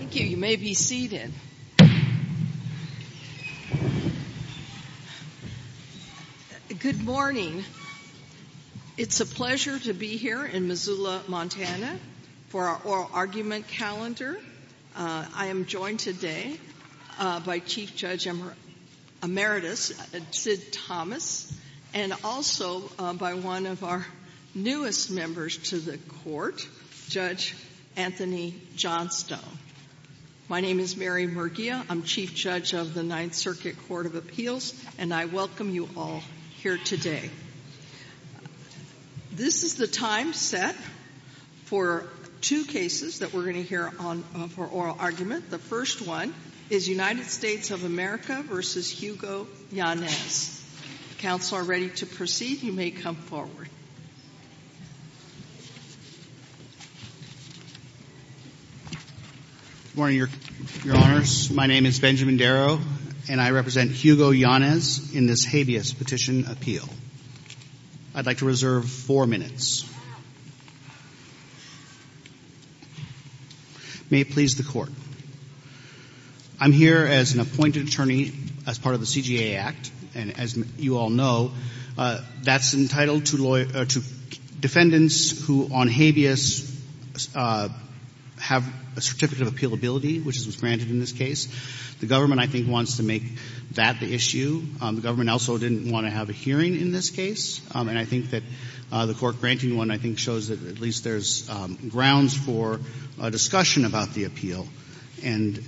Thank you. You may be seated. Good morning. It's a pleasure to be here in Missoula, Montana, for our oral argument calendar. I am joined today by Chief Judge Emeritus, Sid Thomas, and also by one of our members of the Court, Judge Anthony Johnstone. My name is Mary Murguia. I'm Chief Judge of the Ninth Circuit Court of Appeals, and I welcome you all here today. This is the time set for two cases that we're going to hear on for oral argument. The first one is United States of America v. Hugo Yanez. Counsel are ready to proceed. You may come forward. Good morning, Your Honors. My name is Benjamin Darrow, and I represent Hugo Yanez in this habeas petition appeal. I'd like to reserve four minutes. May it please the Court. I'm here as an appointed attorney as part of the CGA Act, and as you all know, that's entitled to defendants who, on habeas, have a certificate of appealability, which was granted in this case. The government, I think, wants to make that the issue. The government also didn't want to have a hearing in this case, and I think that the Court granting one, I think, shows that at least there's grounds for a discussion about the appeal. And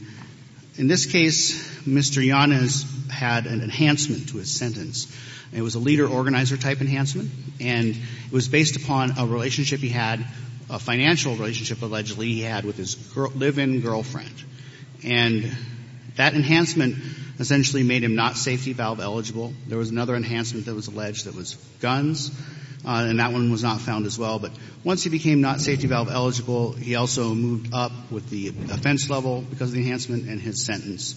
in this case, Mr. Yanez had an enhancement to his sentence. It was a leader-organizer type enhancement, and it was based upon a relationship he had, a financial relationship, allegedly, he had with his live-in girlfriend. And that enhancement essentially made him not safety valve eligible. There was another enhancement that was alleged that was guns, and that one was not found as well. But once he became not safety valve eligible, he also moved up with the offense level because of the enhancement, and his sentence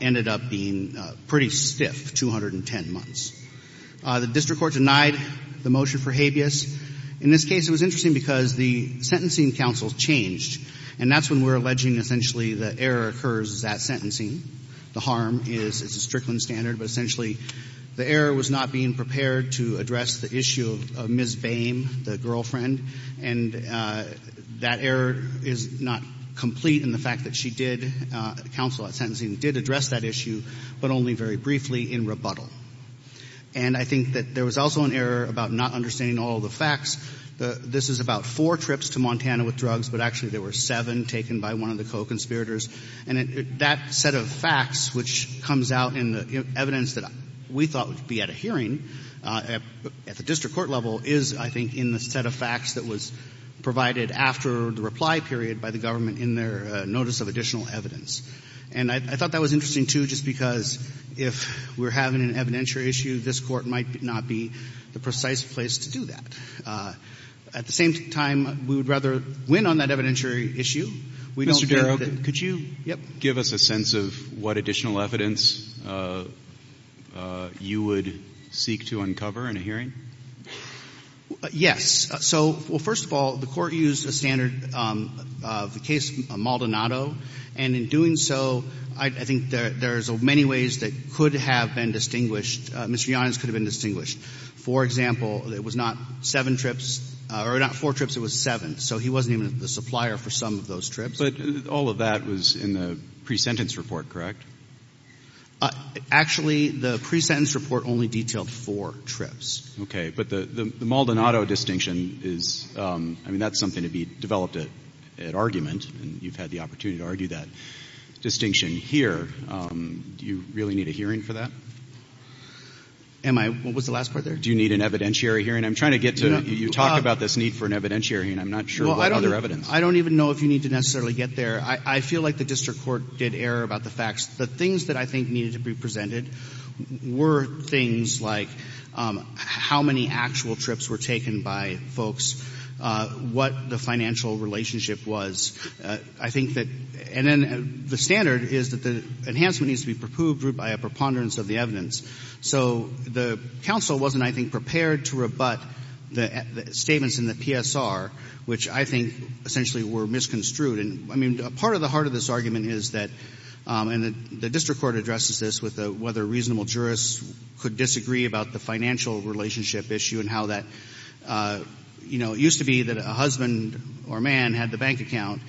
ended up being pretty stiff, 210 months. The district court denied the motion for habeas. In this case, it was interesting because the sentencing counsel changed, and that's when we're alleging essentially the error occurs at sentencing. The harm is a Strickland standard, but essentially the error was not being prepared to address the issue of Ms. Boehm, the girlfriend, and that error is not complete in the fact that she did, the counsel at sentencing did address that issue, but only very briefly in rebuttal. And I think that there was also an error about not understanding all the facts. This is about four trips to Montana with drugs, but actually there were seven taken by one of the co-conspirators. And that set of facts, which comes out in the evidence that we thought would be at a hearing at the district court level, is, I think, in the set of facts that was provided after the reply period by the government in their notice of additional evidence. And I thought that was interesting, too, just because if we're having an evidentiary issue, this Court might not be the precise place to do that. At the same time, we would rather win on that evidentiary issue. We don't fear that could you give us a sense of what additional evidence you would seek to uncover in a hearing? Yes. So, well, first of all, the Court used a standard of the case Maldonado and in doing so, I think there's many ways that could have been distinguished. Mr. Yonnas could have been distinguished. For example, it was not seven trips or not four trips, it was seven. So he wasn't even the supplier for some of those trips. But all of that was in the pre-sentence report, correct? Actually, the pre-sentence report only detailed four trips. Okay. But the Maldonado distinction is, I mean, that's something to be developed at argument, and you've had the opportunity to argue that distinction here. Do you really need a hearing for that? Am I? What was the last part there? Do you need an evidentiary hearing? I'm trying to get to it. You talk about this need for an evidentiary hearing. I'm not sure what other evidence. I don't even know if you need to necessarily get there. I feel like the district court did error about the facts. The things that I think needed to be presented were things like how many actual trips were taken by folks, what the financial relationship was. I think that the standard is that the enhancement needs to be approved by a preponderance of the evidence. So the counsel wasn't, I think, prepared to rebut the statements in the PSR, which I think essentially were misconstrued. And, I mean, part of the heart of this argument is that, and the district court addresses this with whether reasonable jurists could disagree about the financial relationship issue and how that, you know, it used to be that a husband or a man had the bank account,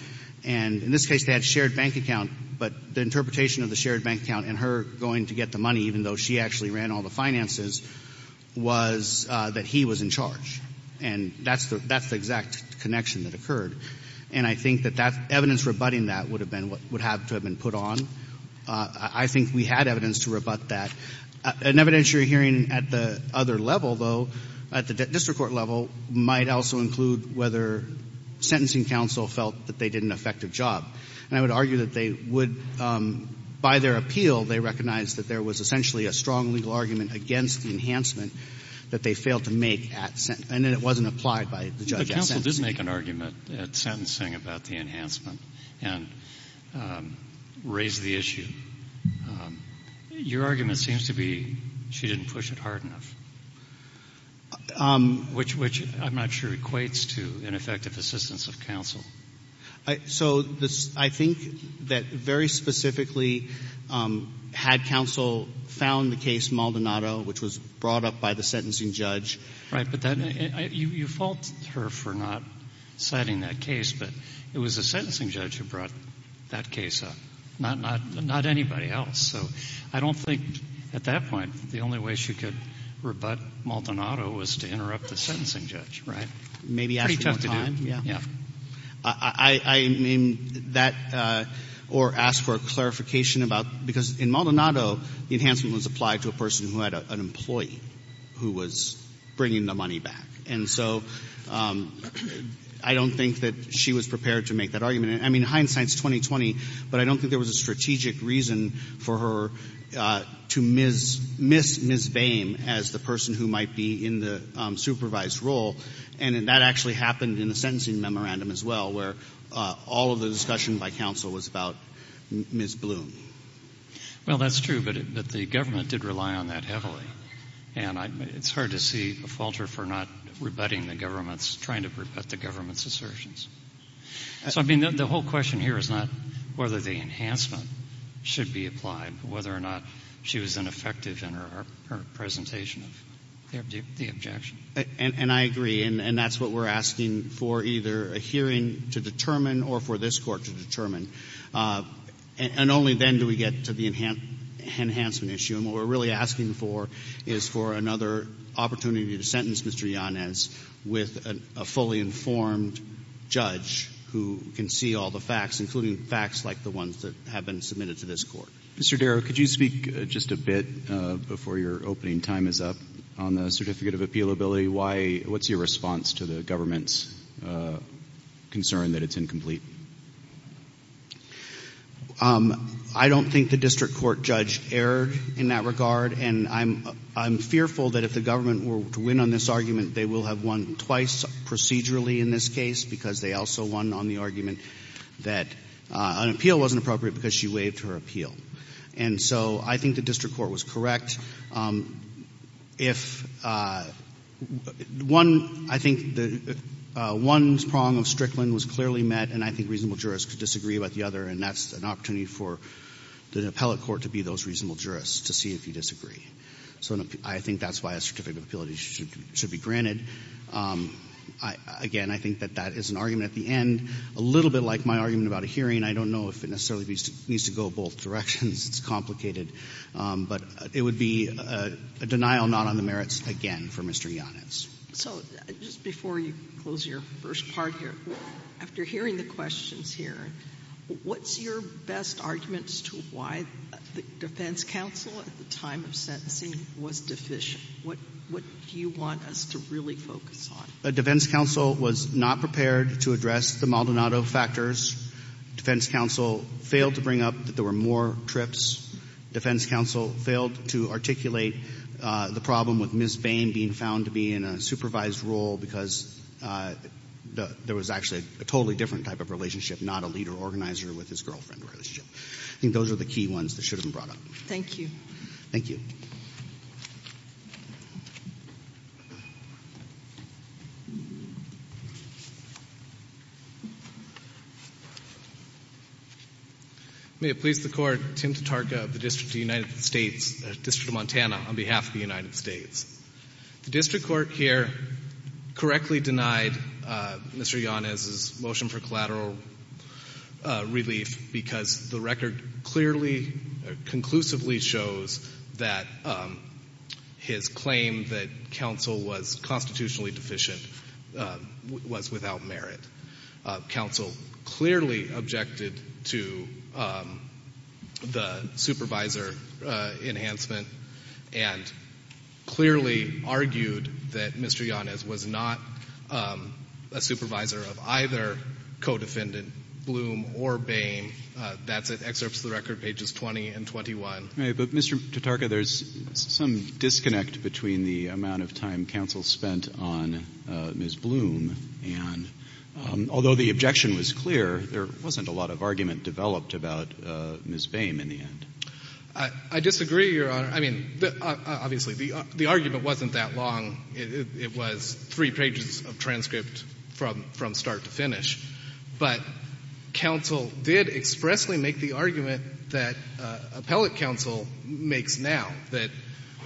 and in this case they had a shared bank account, but the interpretation of the shared bank account and her going to get the money, even though she actually ran all the finances, was that he was in charge. And that's the exact connection that occurred. And I think that evidence rebutting that would have to have been put on. I think we had evidence to rebut that. An evidentiary hearing at the other level, though, at the district court level, might also include whether sentencing counsel felt that they did an effective job. And I would argue that they would, by their appeal, they recognized that there was essentially a strong legal argument against the enhancement that they failed to make at sentence, and that it wasn't applied by the judge at sentencing. Let's make an argument at sentencing about the enhancement and raise the issue. Your argument seems to be she didn't push it hard enough, which I'm not sure equates to ineffective assistance of counsel. So I think that very specifically, had counsel found the case Maldonado, which was brought up by the sentencing judge Right. But you fault her for not citing that case, but it was the sentencing judge who brought that case up, not anybody else. So I don't think at that point the only way she could rebut Maldonado was to interrupt the sentencing judge, right? Maybe ask her what to do. Pretty tough time. Yeah. Yeah. I mean, that, or ask for a clarification about, because in Maldonado, the enhancement was an employee who was bringing the money back. And so I don't think that she was prepared to make that argument. I mean, hindsight's 20-20, but I don't think there was a strategic reason for her to miss Ms. Boehm as the person who might be in the supervised role, and that actually happened in the sentencing memorandum as well, where all of the discussion by counsel was about Ms. Bloom. Well, that's true, but the government did rely on that heavily. And it's hard to see a faulter for not rebutting the government's, trying to rebut the government's assertions. So, I mean, the whole question here is not whether the enhancement should be applied, but whether or not she was ineffective in her presentation of the objection. And I agree, and that's what we're asking for either a hearing to determine or for this When do we get to the enhancement issue? And what we're really asking for is for another opportunity to sentence Mr. Yanez with a fully informed judge who can see all the facts, including facts like the ones that have been submitted to this Court. Mr. Darrow, could you speak just a bit, before your opening time is up, on the certificate of appealability? Why, what's your response to the government's concern that it's incomplete? I don't think the district court judge erred in that regard, and I'm fearful that if the government were to win on this argument, they will have won twice procedurally in this case, because they also won on the argument that an appeal wasn't appropriate because she waived her appeal. And so I think the district court was correct. If one, I think one prong of reasonable jurists could disagree about the other, and that's an opportunity for an appellate court to be those reasonable jurists, to see if you disagree. So I think that's why a certificate of appealability should be granted. Again, I think that that is an argument at the end, a little bit like my argument about a hearing. I don't know if it necessarily needs to go both directions. It's complicated. But it would be a denial not on the merits again for Mr. Yanez. So just before you close your first part here, after hearing the questions here, what's your best arguments to why the defense counsel at the time of sentencing was deficient? What do you want us to really focus on? The defense counsel was not prepared to address the Maldonado factors. Defense counsel failed to bring up that there were more trips. Defense counsel failed to articulate the problem with Ms. Bain being found to be in a supervised role because there was actually a totally different type of relationship, not a leader-organizer with his girlfriend. I think those are the key ones that should have been brought up. Thank you. Thank you. May it please the Court, Tim Tatarka of the District of the United States, District of Montana, on behalf of the United States. The District Court here correctly denied Mr. Yanez's extra collateral relief because the record clearly, conclusively shows that his claim that counsel was constitutionally deficient was without merit. Counsel clearly objected to the supervisor enhancement and clearly argued that Mr. Yanez was not a supervisor of either co-defendant, Bloom or Bain. That's at excerpts of the record, pages 20 and 21. All right. But, Mr. Tatarka, there's some disconnect between the amount of time counsel spent on Ms. Bloom and, although the objection was clear, there wasn't a lot of argument developed about Ms. Bain in the end. I disagree, Your Honor. I mean, obviously, the argument wasn't that long. It was three months from start to finish. But counsel did expressly make the argument that appellate counsel makes now, that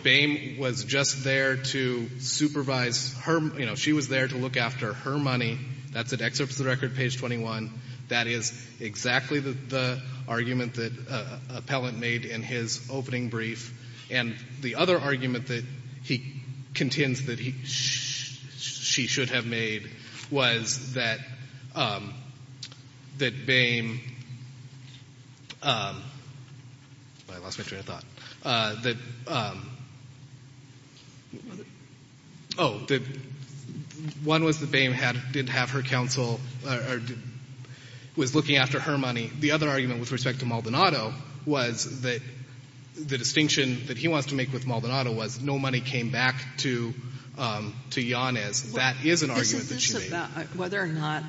Bain was just there to supervise her — you know, she was there to look after her money. That's at excerpts of the record, page 21. That is exactly the argument that appellant made in his opening brief. And the other argument that he contends that he — she should have made was that Bain — I lost my train of thought — that — oh, one was that Bain had — didn't have her counsel or was looking after her money. The other argument with respect to Maldonado was that — the distinction that he wants to make with Maldonado was no money came back to Yanez. That is an argument that she made. Well, this is about whether or not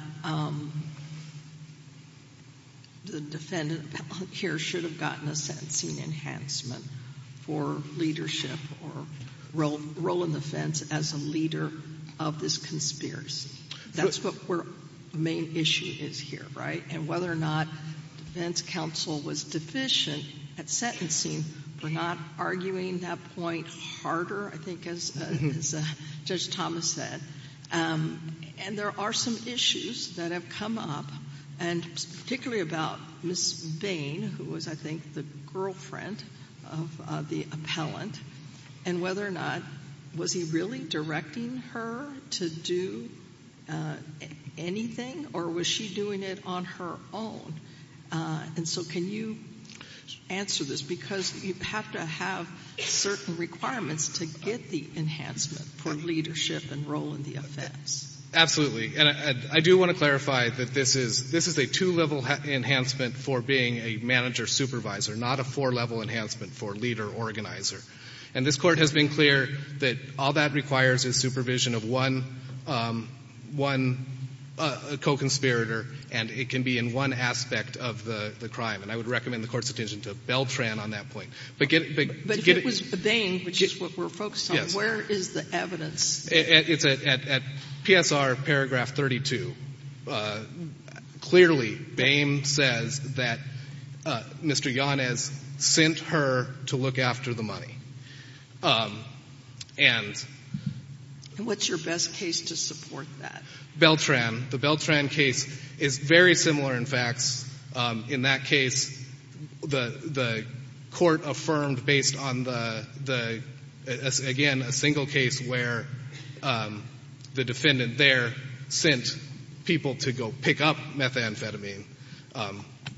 the defendant here should have gotten a sentencing enhancement for leadership or role in the fence as a leader of this conspiracy. That's what we're — the main issue is here, right? And whether or not defense counsel was deficient at sentencing for not arguing that point harder, I think, as Judge Thomas said. And there are some issues that have come up, and particularly about Ms. Bain, who was, I think, the girlfriend of the appellant, and whether or not — was he really directing her to do anything, or was she doing it on her own? And so can you answer this? Because you have to have certain requirements to get the enhancement for leadership and role in the offense. Absolutely. And I do want to clarify that this is — this is a two-level enhancement for being a manager supervisor, not a four-level enhancement for leader organizer. And this requires a supervision of one — one co-conspirator, and it can be in one aspect of the crime. And I would recommend the Court's attention to Beltran on that point. But get — But if it was Bain, which is what we're focused on, where is the evidence? It's at PSR paragraph 32. Clearly, Bain says that Mr. Yanez sent her to look after the money. And — And what's your best case to support that? Beltran. The Beltran case is very similar in facts. In that case, the — the court affirmed based on the — the — again, a single case where the defendant there sent people to go pick up methamphetamine.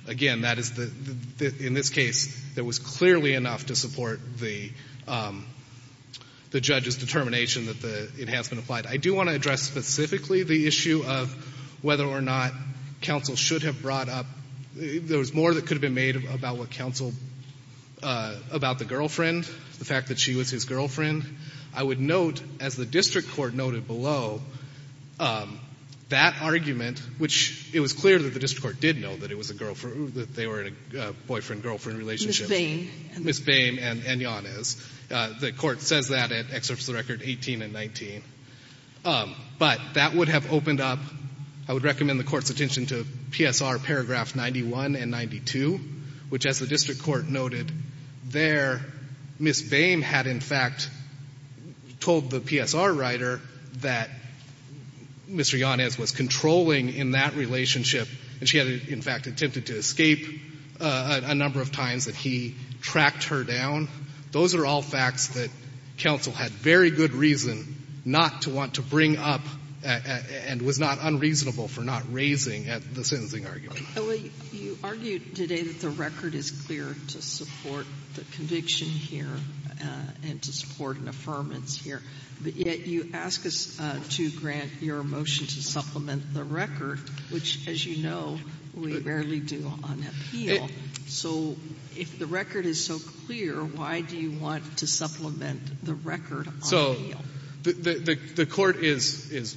Again, that is the — in this case, there was clearly enough to support the — the judge's determination that the enhancement applied. I do want to address specifically the issue of whether or not counsel should have brought up — there was more that could have been made about what counsel — about the girlfriend, the fact that she was his girlfriend. I would note, as the district court noted below, that argument, which it was clear that the district court did know that it was a girl — that they were in a boyfriend-girlfriend relationship. Ms. Bain and — Ms. Bain and — and Yanez. The court says that at excerpts of the record 18 and 19. But that would have opened up — I would recommend the Court's attention to PSR paragraph 91 and 92, which, as the district court noted there, Ms. Bain had, in fact, told the PSR writer that Mr. Yanez was controlling in that relationship, and she had, in fact, attempted to escape a number of times that he tracked her down. Those are all facts that counsel had very good reason not to want to bring up and was not unreasonable for not raising at the sentencing argument. Well, you argued today that the record is clear to support the conviction here and to support an affirmance here, but yet you ask us to grant your motion to supplement the on appeal. So if the record is so clear, why do you want to supplement the record on appeal? So the — the court is — is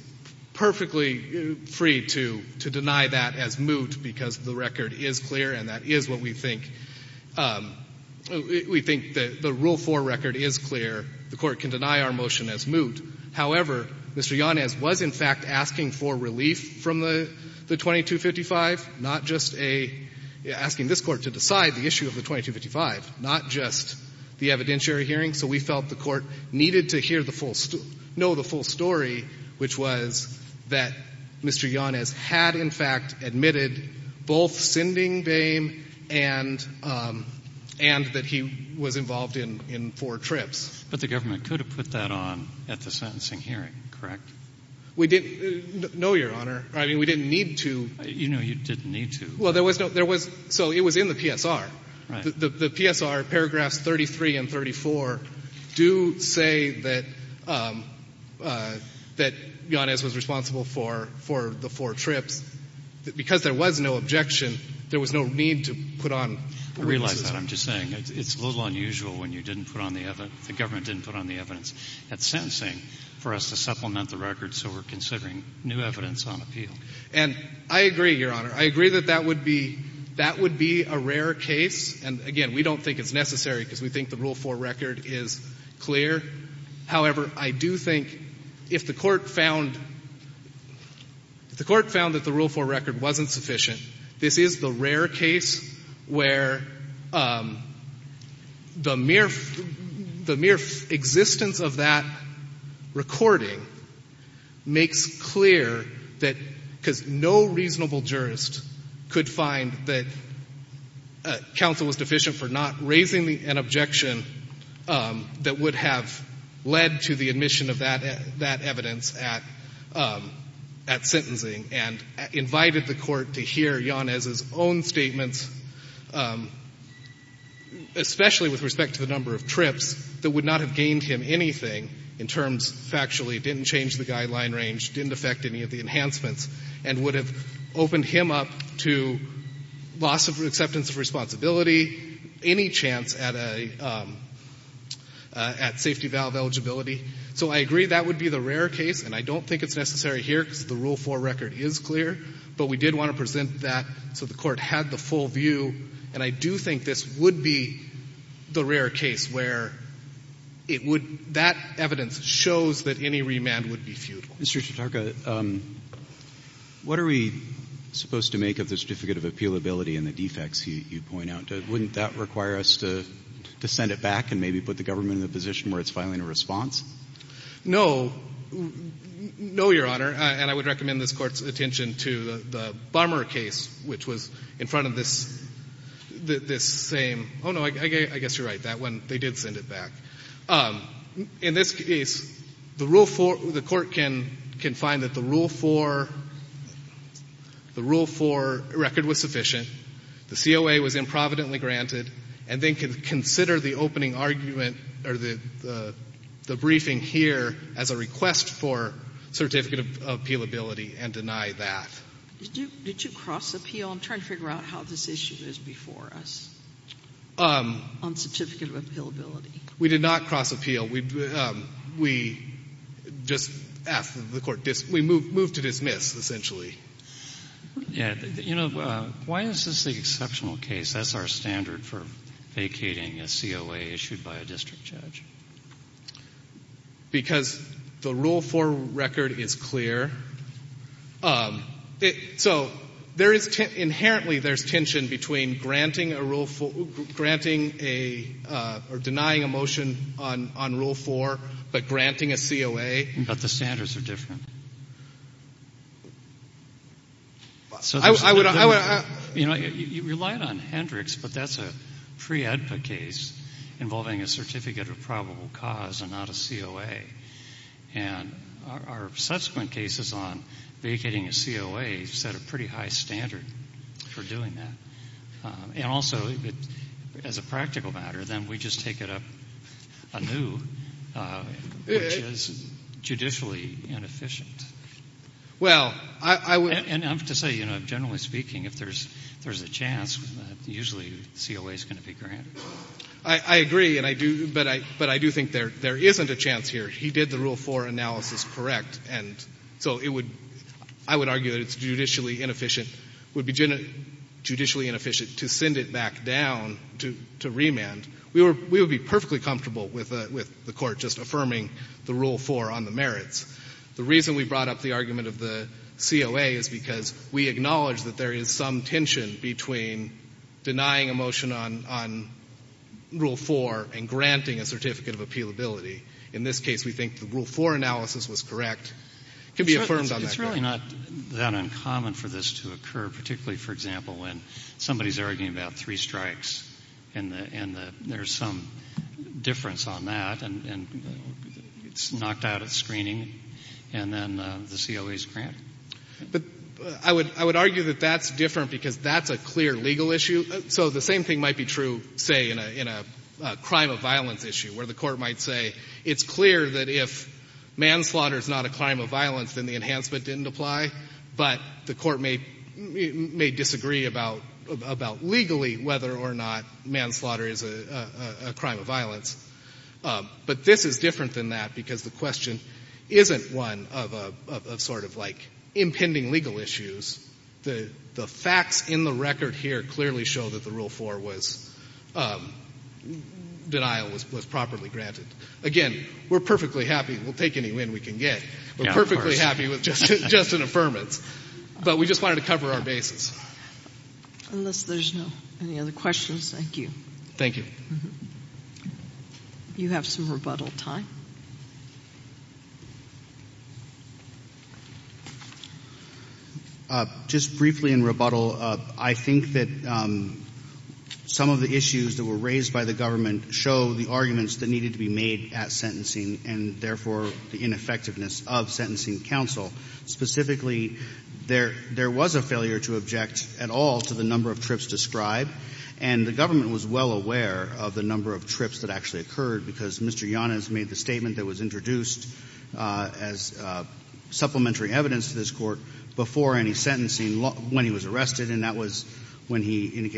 perfectly free to — to deny that as moot because the record is clear, and that is what we think — we think the — the Rule 4 record is clear. The court can deny our motion as moot. However, Mr. Yanez was, in fact, asking for relief from the — the 2255, not just a — asking this Court to decide the issue of the 2255, not just the evidentiary hearing. So we felt the Court needed to hear the full — know the full story, which was that Mr. Yanez had, in fact, admitted both sending Bain and — and that he was involved in — in four trips. But the government could have put that on at the sentencing hearing, correct? We didn't — no, Your Honor. I mean, we didn't need to. You know you didn't need to. Well, there was no — there was — so it was in the PSR. Right. The PSR, paragraphs 33 and 34, do say that — that Yanez was responsible for — for the four trips. Because there was no objection, there was no need to put on — I realize that. I'm just saying it's a little unusual when you didn't put on the — the supplement, the record, so we're considering new evidence on appeal. And I agree, Your Honor. I agree that that would be — that would be a rare case. And again, we don't think it's necessary because we think the Rule 4 record is clear. However, I do think if the Court found — if the Court found that the Rule 4 record wasn't sufficient, this is the rare case where the mere — the mere existence of that recording makes clear that — because no reasonable jurist could find that counsel was deficient for not raising the — an objection that would have led to the admission of that — that would have led to the admission of that charge. So I agree that that would be the rare case. And I don't think it's necessary here because the Rule 4 record is clear, but we did want to present that so the Court had the full view. And I do think this would be the rare case where it would — that evidence shows that any remand would be futile. Mr. Sotarka, what are we supposed to make of the Certificate of Appealability and the defects you point out? Wouldn't that require us to — to send it back and maybe put the government in a position where it's filing a response? No. No, Your Honor. And I would recommend this Court's attention to the — the Bommer case, which was in front of this — this same — oh, no, I guess you're right, that one. They did send it back. In this case, the Rule 4 — the Court can — can find that the Rule 4 — the Rule 4 record was sufficient, the COA was improvidently granted, and then can consider the opening argument or the — the briefing here as a request for Certificate of Appealability and deny that. Did you — did you cross-appeal? I'm trying to figure out how this issue is before us on Certificate of Appealability. We did not cross-appeal. We — we just asked the Court — we moved to dismiss, essentially. Yeah. You know, why is this the exceptional case? That's our standard for vacating a COA issued by a district judge. Because the Rule 4 record is clear. So there is — inherently, there's tension between granting a Rule — granting a — or denying a motion on — on Rule 4 but granting a COA. But the standards are different. I would — I would — You know, you relied on Hendricks, but that's a pre-AEDPA case involving a Certificate of Probable Cause and not a COA. And our subsequent cases on vacating a COA set a pretty high standard for doing that. And also, as a practical matter, then we just take it up anew, which is a pretty good thing. But I don't think there's a chance that it's going to be granted. I agree. And I do — but I — but I do think there — there isn't a chance here. He did the Rule 4 analysis correct. And so it would — I would argue that it's judicially inefficient — would be judicially inefficient to send it back down to — to remand. We were — we would be perfectly comfortable with a — with the Court just affirming the Rule 4 on the merits. The reason we brought up the argument of the COA is because we acknowledge that there is some tension between denying a motion on — on Rule 4 and granting a Certificate of Appealability. In this case, we think the Rule 4 analysis was correct. It can be affirmed on that. It's really not that uncommon for this to occur, particularly, for example, when somebody's arguing about three strikes, and the — and the — there's some difference on that. And it's knocked out of the screening. And then the COA is granted. But I would — I would argue that that's different because that's a clear legal issue. So the same thing might be true, say, in a — in a crime of violence issue, where the Court might say, it's clear that if manslaughter is not a crime of violence, then the enhancement didn't apply. But the Court may — may disagree about — about legally whether or not manslaughter is a — a crime of violence. But this is different than that because the question isn't one of a — of sort of like impending legal issues. The — the facts in the record here clearly show that the Rule 4 was — denial was — was properly granted. Again, we're perfectly happy — we'll take any win we can get. Yeah, of course. We're perfectly happy with just — just an affirmance. But we just wanted to cover our basis. Unless there's no — any other questions. Thank you. Thank you. You have some rebuttal time. Just briefly in rebuttal, I think that some of the issues that were raised by the government show the arguments that needed to be made at sentencing and, therefore, the ineffectiveness of sentencing counsel. Specifically, there — there was a failure to object at all to the number of trips described. And the government was well aware of the number of trips that actually occurred because Mr. Yanez made the statement that was introduced as supplementary evidence to this Court before any sentencing, when he was arrested. And that was when he had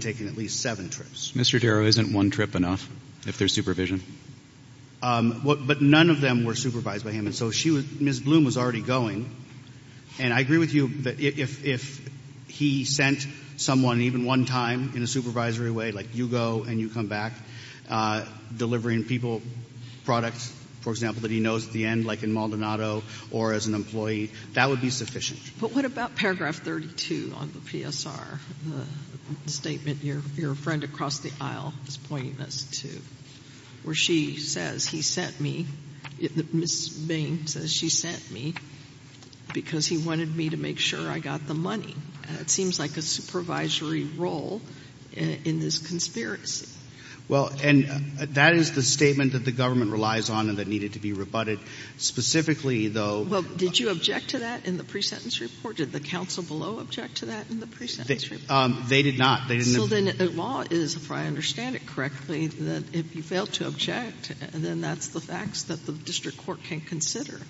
taken at least seven trips. Mr. Darrow, isn't one trip enough, if there's supervision? But none of them were supervised by him. And so she was — Ms. Bloom was already going. And I agree with you that if — if he sent someone even one time in a supervisory way, like you go and you come back, delivering people products, for example, that he knows at the end, like in Maldonado, or as an employee, that would be sufficient. But what about paragraph 32 on the PSR, the statement your — your friend across the aisle is pointing us to, where she says, he sent me — Ms. Bain says, she sent me because he wanted me to make sure I got the money. It seems like a supervisory role in this conspiracy. Well, and that is the statement that the government relies on and that needed to be rebutted. Specifically, though — Well, did you object to that in the pre-sentence report? Did the counsel below object to that in the pre-sentence report? They did not. They didn't — So then the law is, if I understand it correctly, that if you fail to object, then that's the facts that the district court can consider.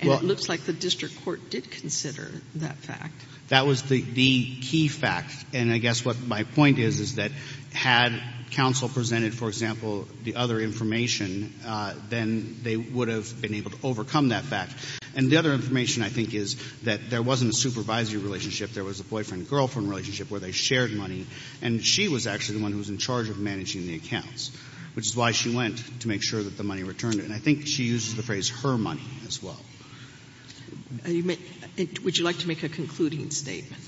And it looks like the district court did consider that fact. That was the — the key fact. And I guess what my point is, is that had counsel presented, for example, the other information, then they would have been able to overcome that fact. And the other information, I think, is that there wasn't a supervisory relationship. There was a boyfriend-girlfriend relationship where they shared money. And she was actually the one who was in charge of managing the accounts, which is why she went, to make sure that the money returned. And I think she uses the phrase, her money, as well. Would you like to make a concluding statement?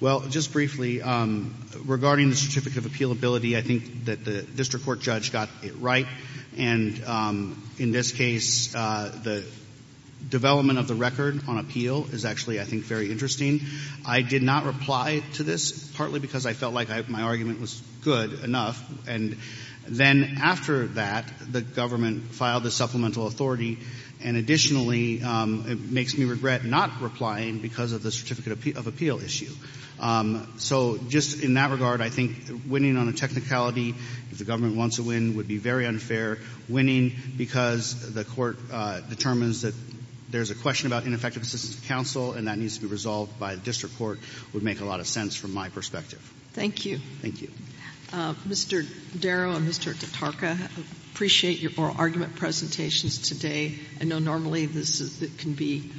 Well, just briefly, regarding the certificate of appealability, I think that the district court judge got it right. And in this case, the development of the record on appeal is actually, I think, very interesting. I did not reply to this, partly because I felt like my argument was good enough. And then, after that, the government filed a supplemental authority. And additionally, it makes me regret not replying because of the certificate of appeal issue. So just in that regard, I think winning on a technicality, if the government wants to win, would be very unfair. Winning because the Court determines that there's a question about ineffective assistance of counsel, and that needs to be resolved by the district court, would make a lot of sense from my perspective. Thank you. Thank you. Mr. Darrow and Mr. Tatarka, I appreciate your oral argument presentations today. I know normally this can be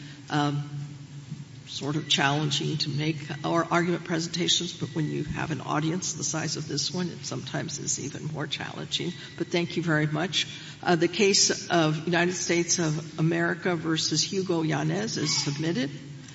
sort of challenging to make our argument presentations, but when you have an audience the size of this one, it sometimes is even more challenging. But thank you very much. The case of United States of America v. Hugo Yanez is submitted.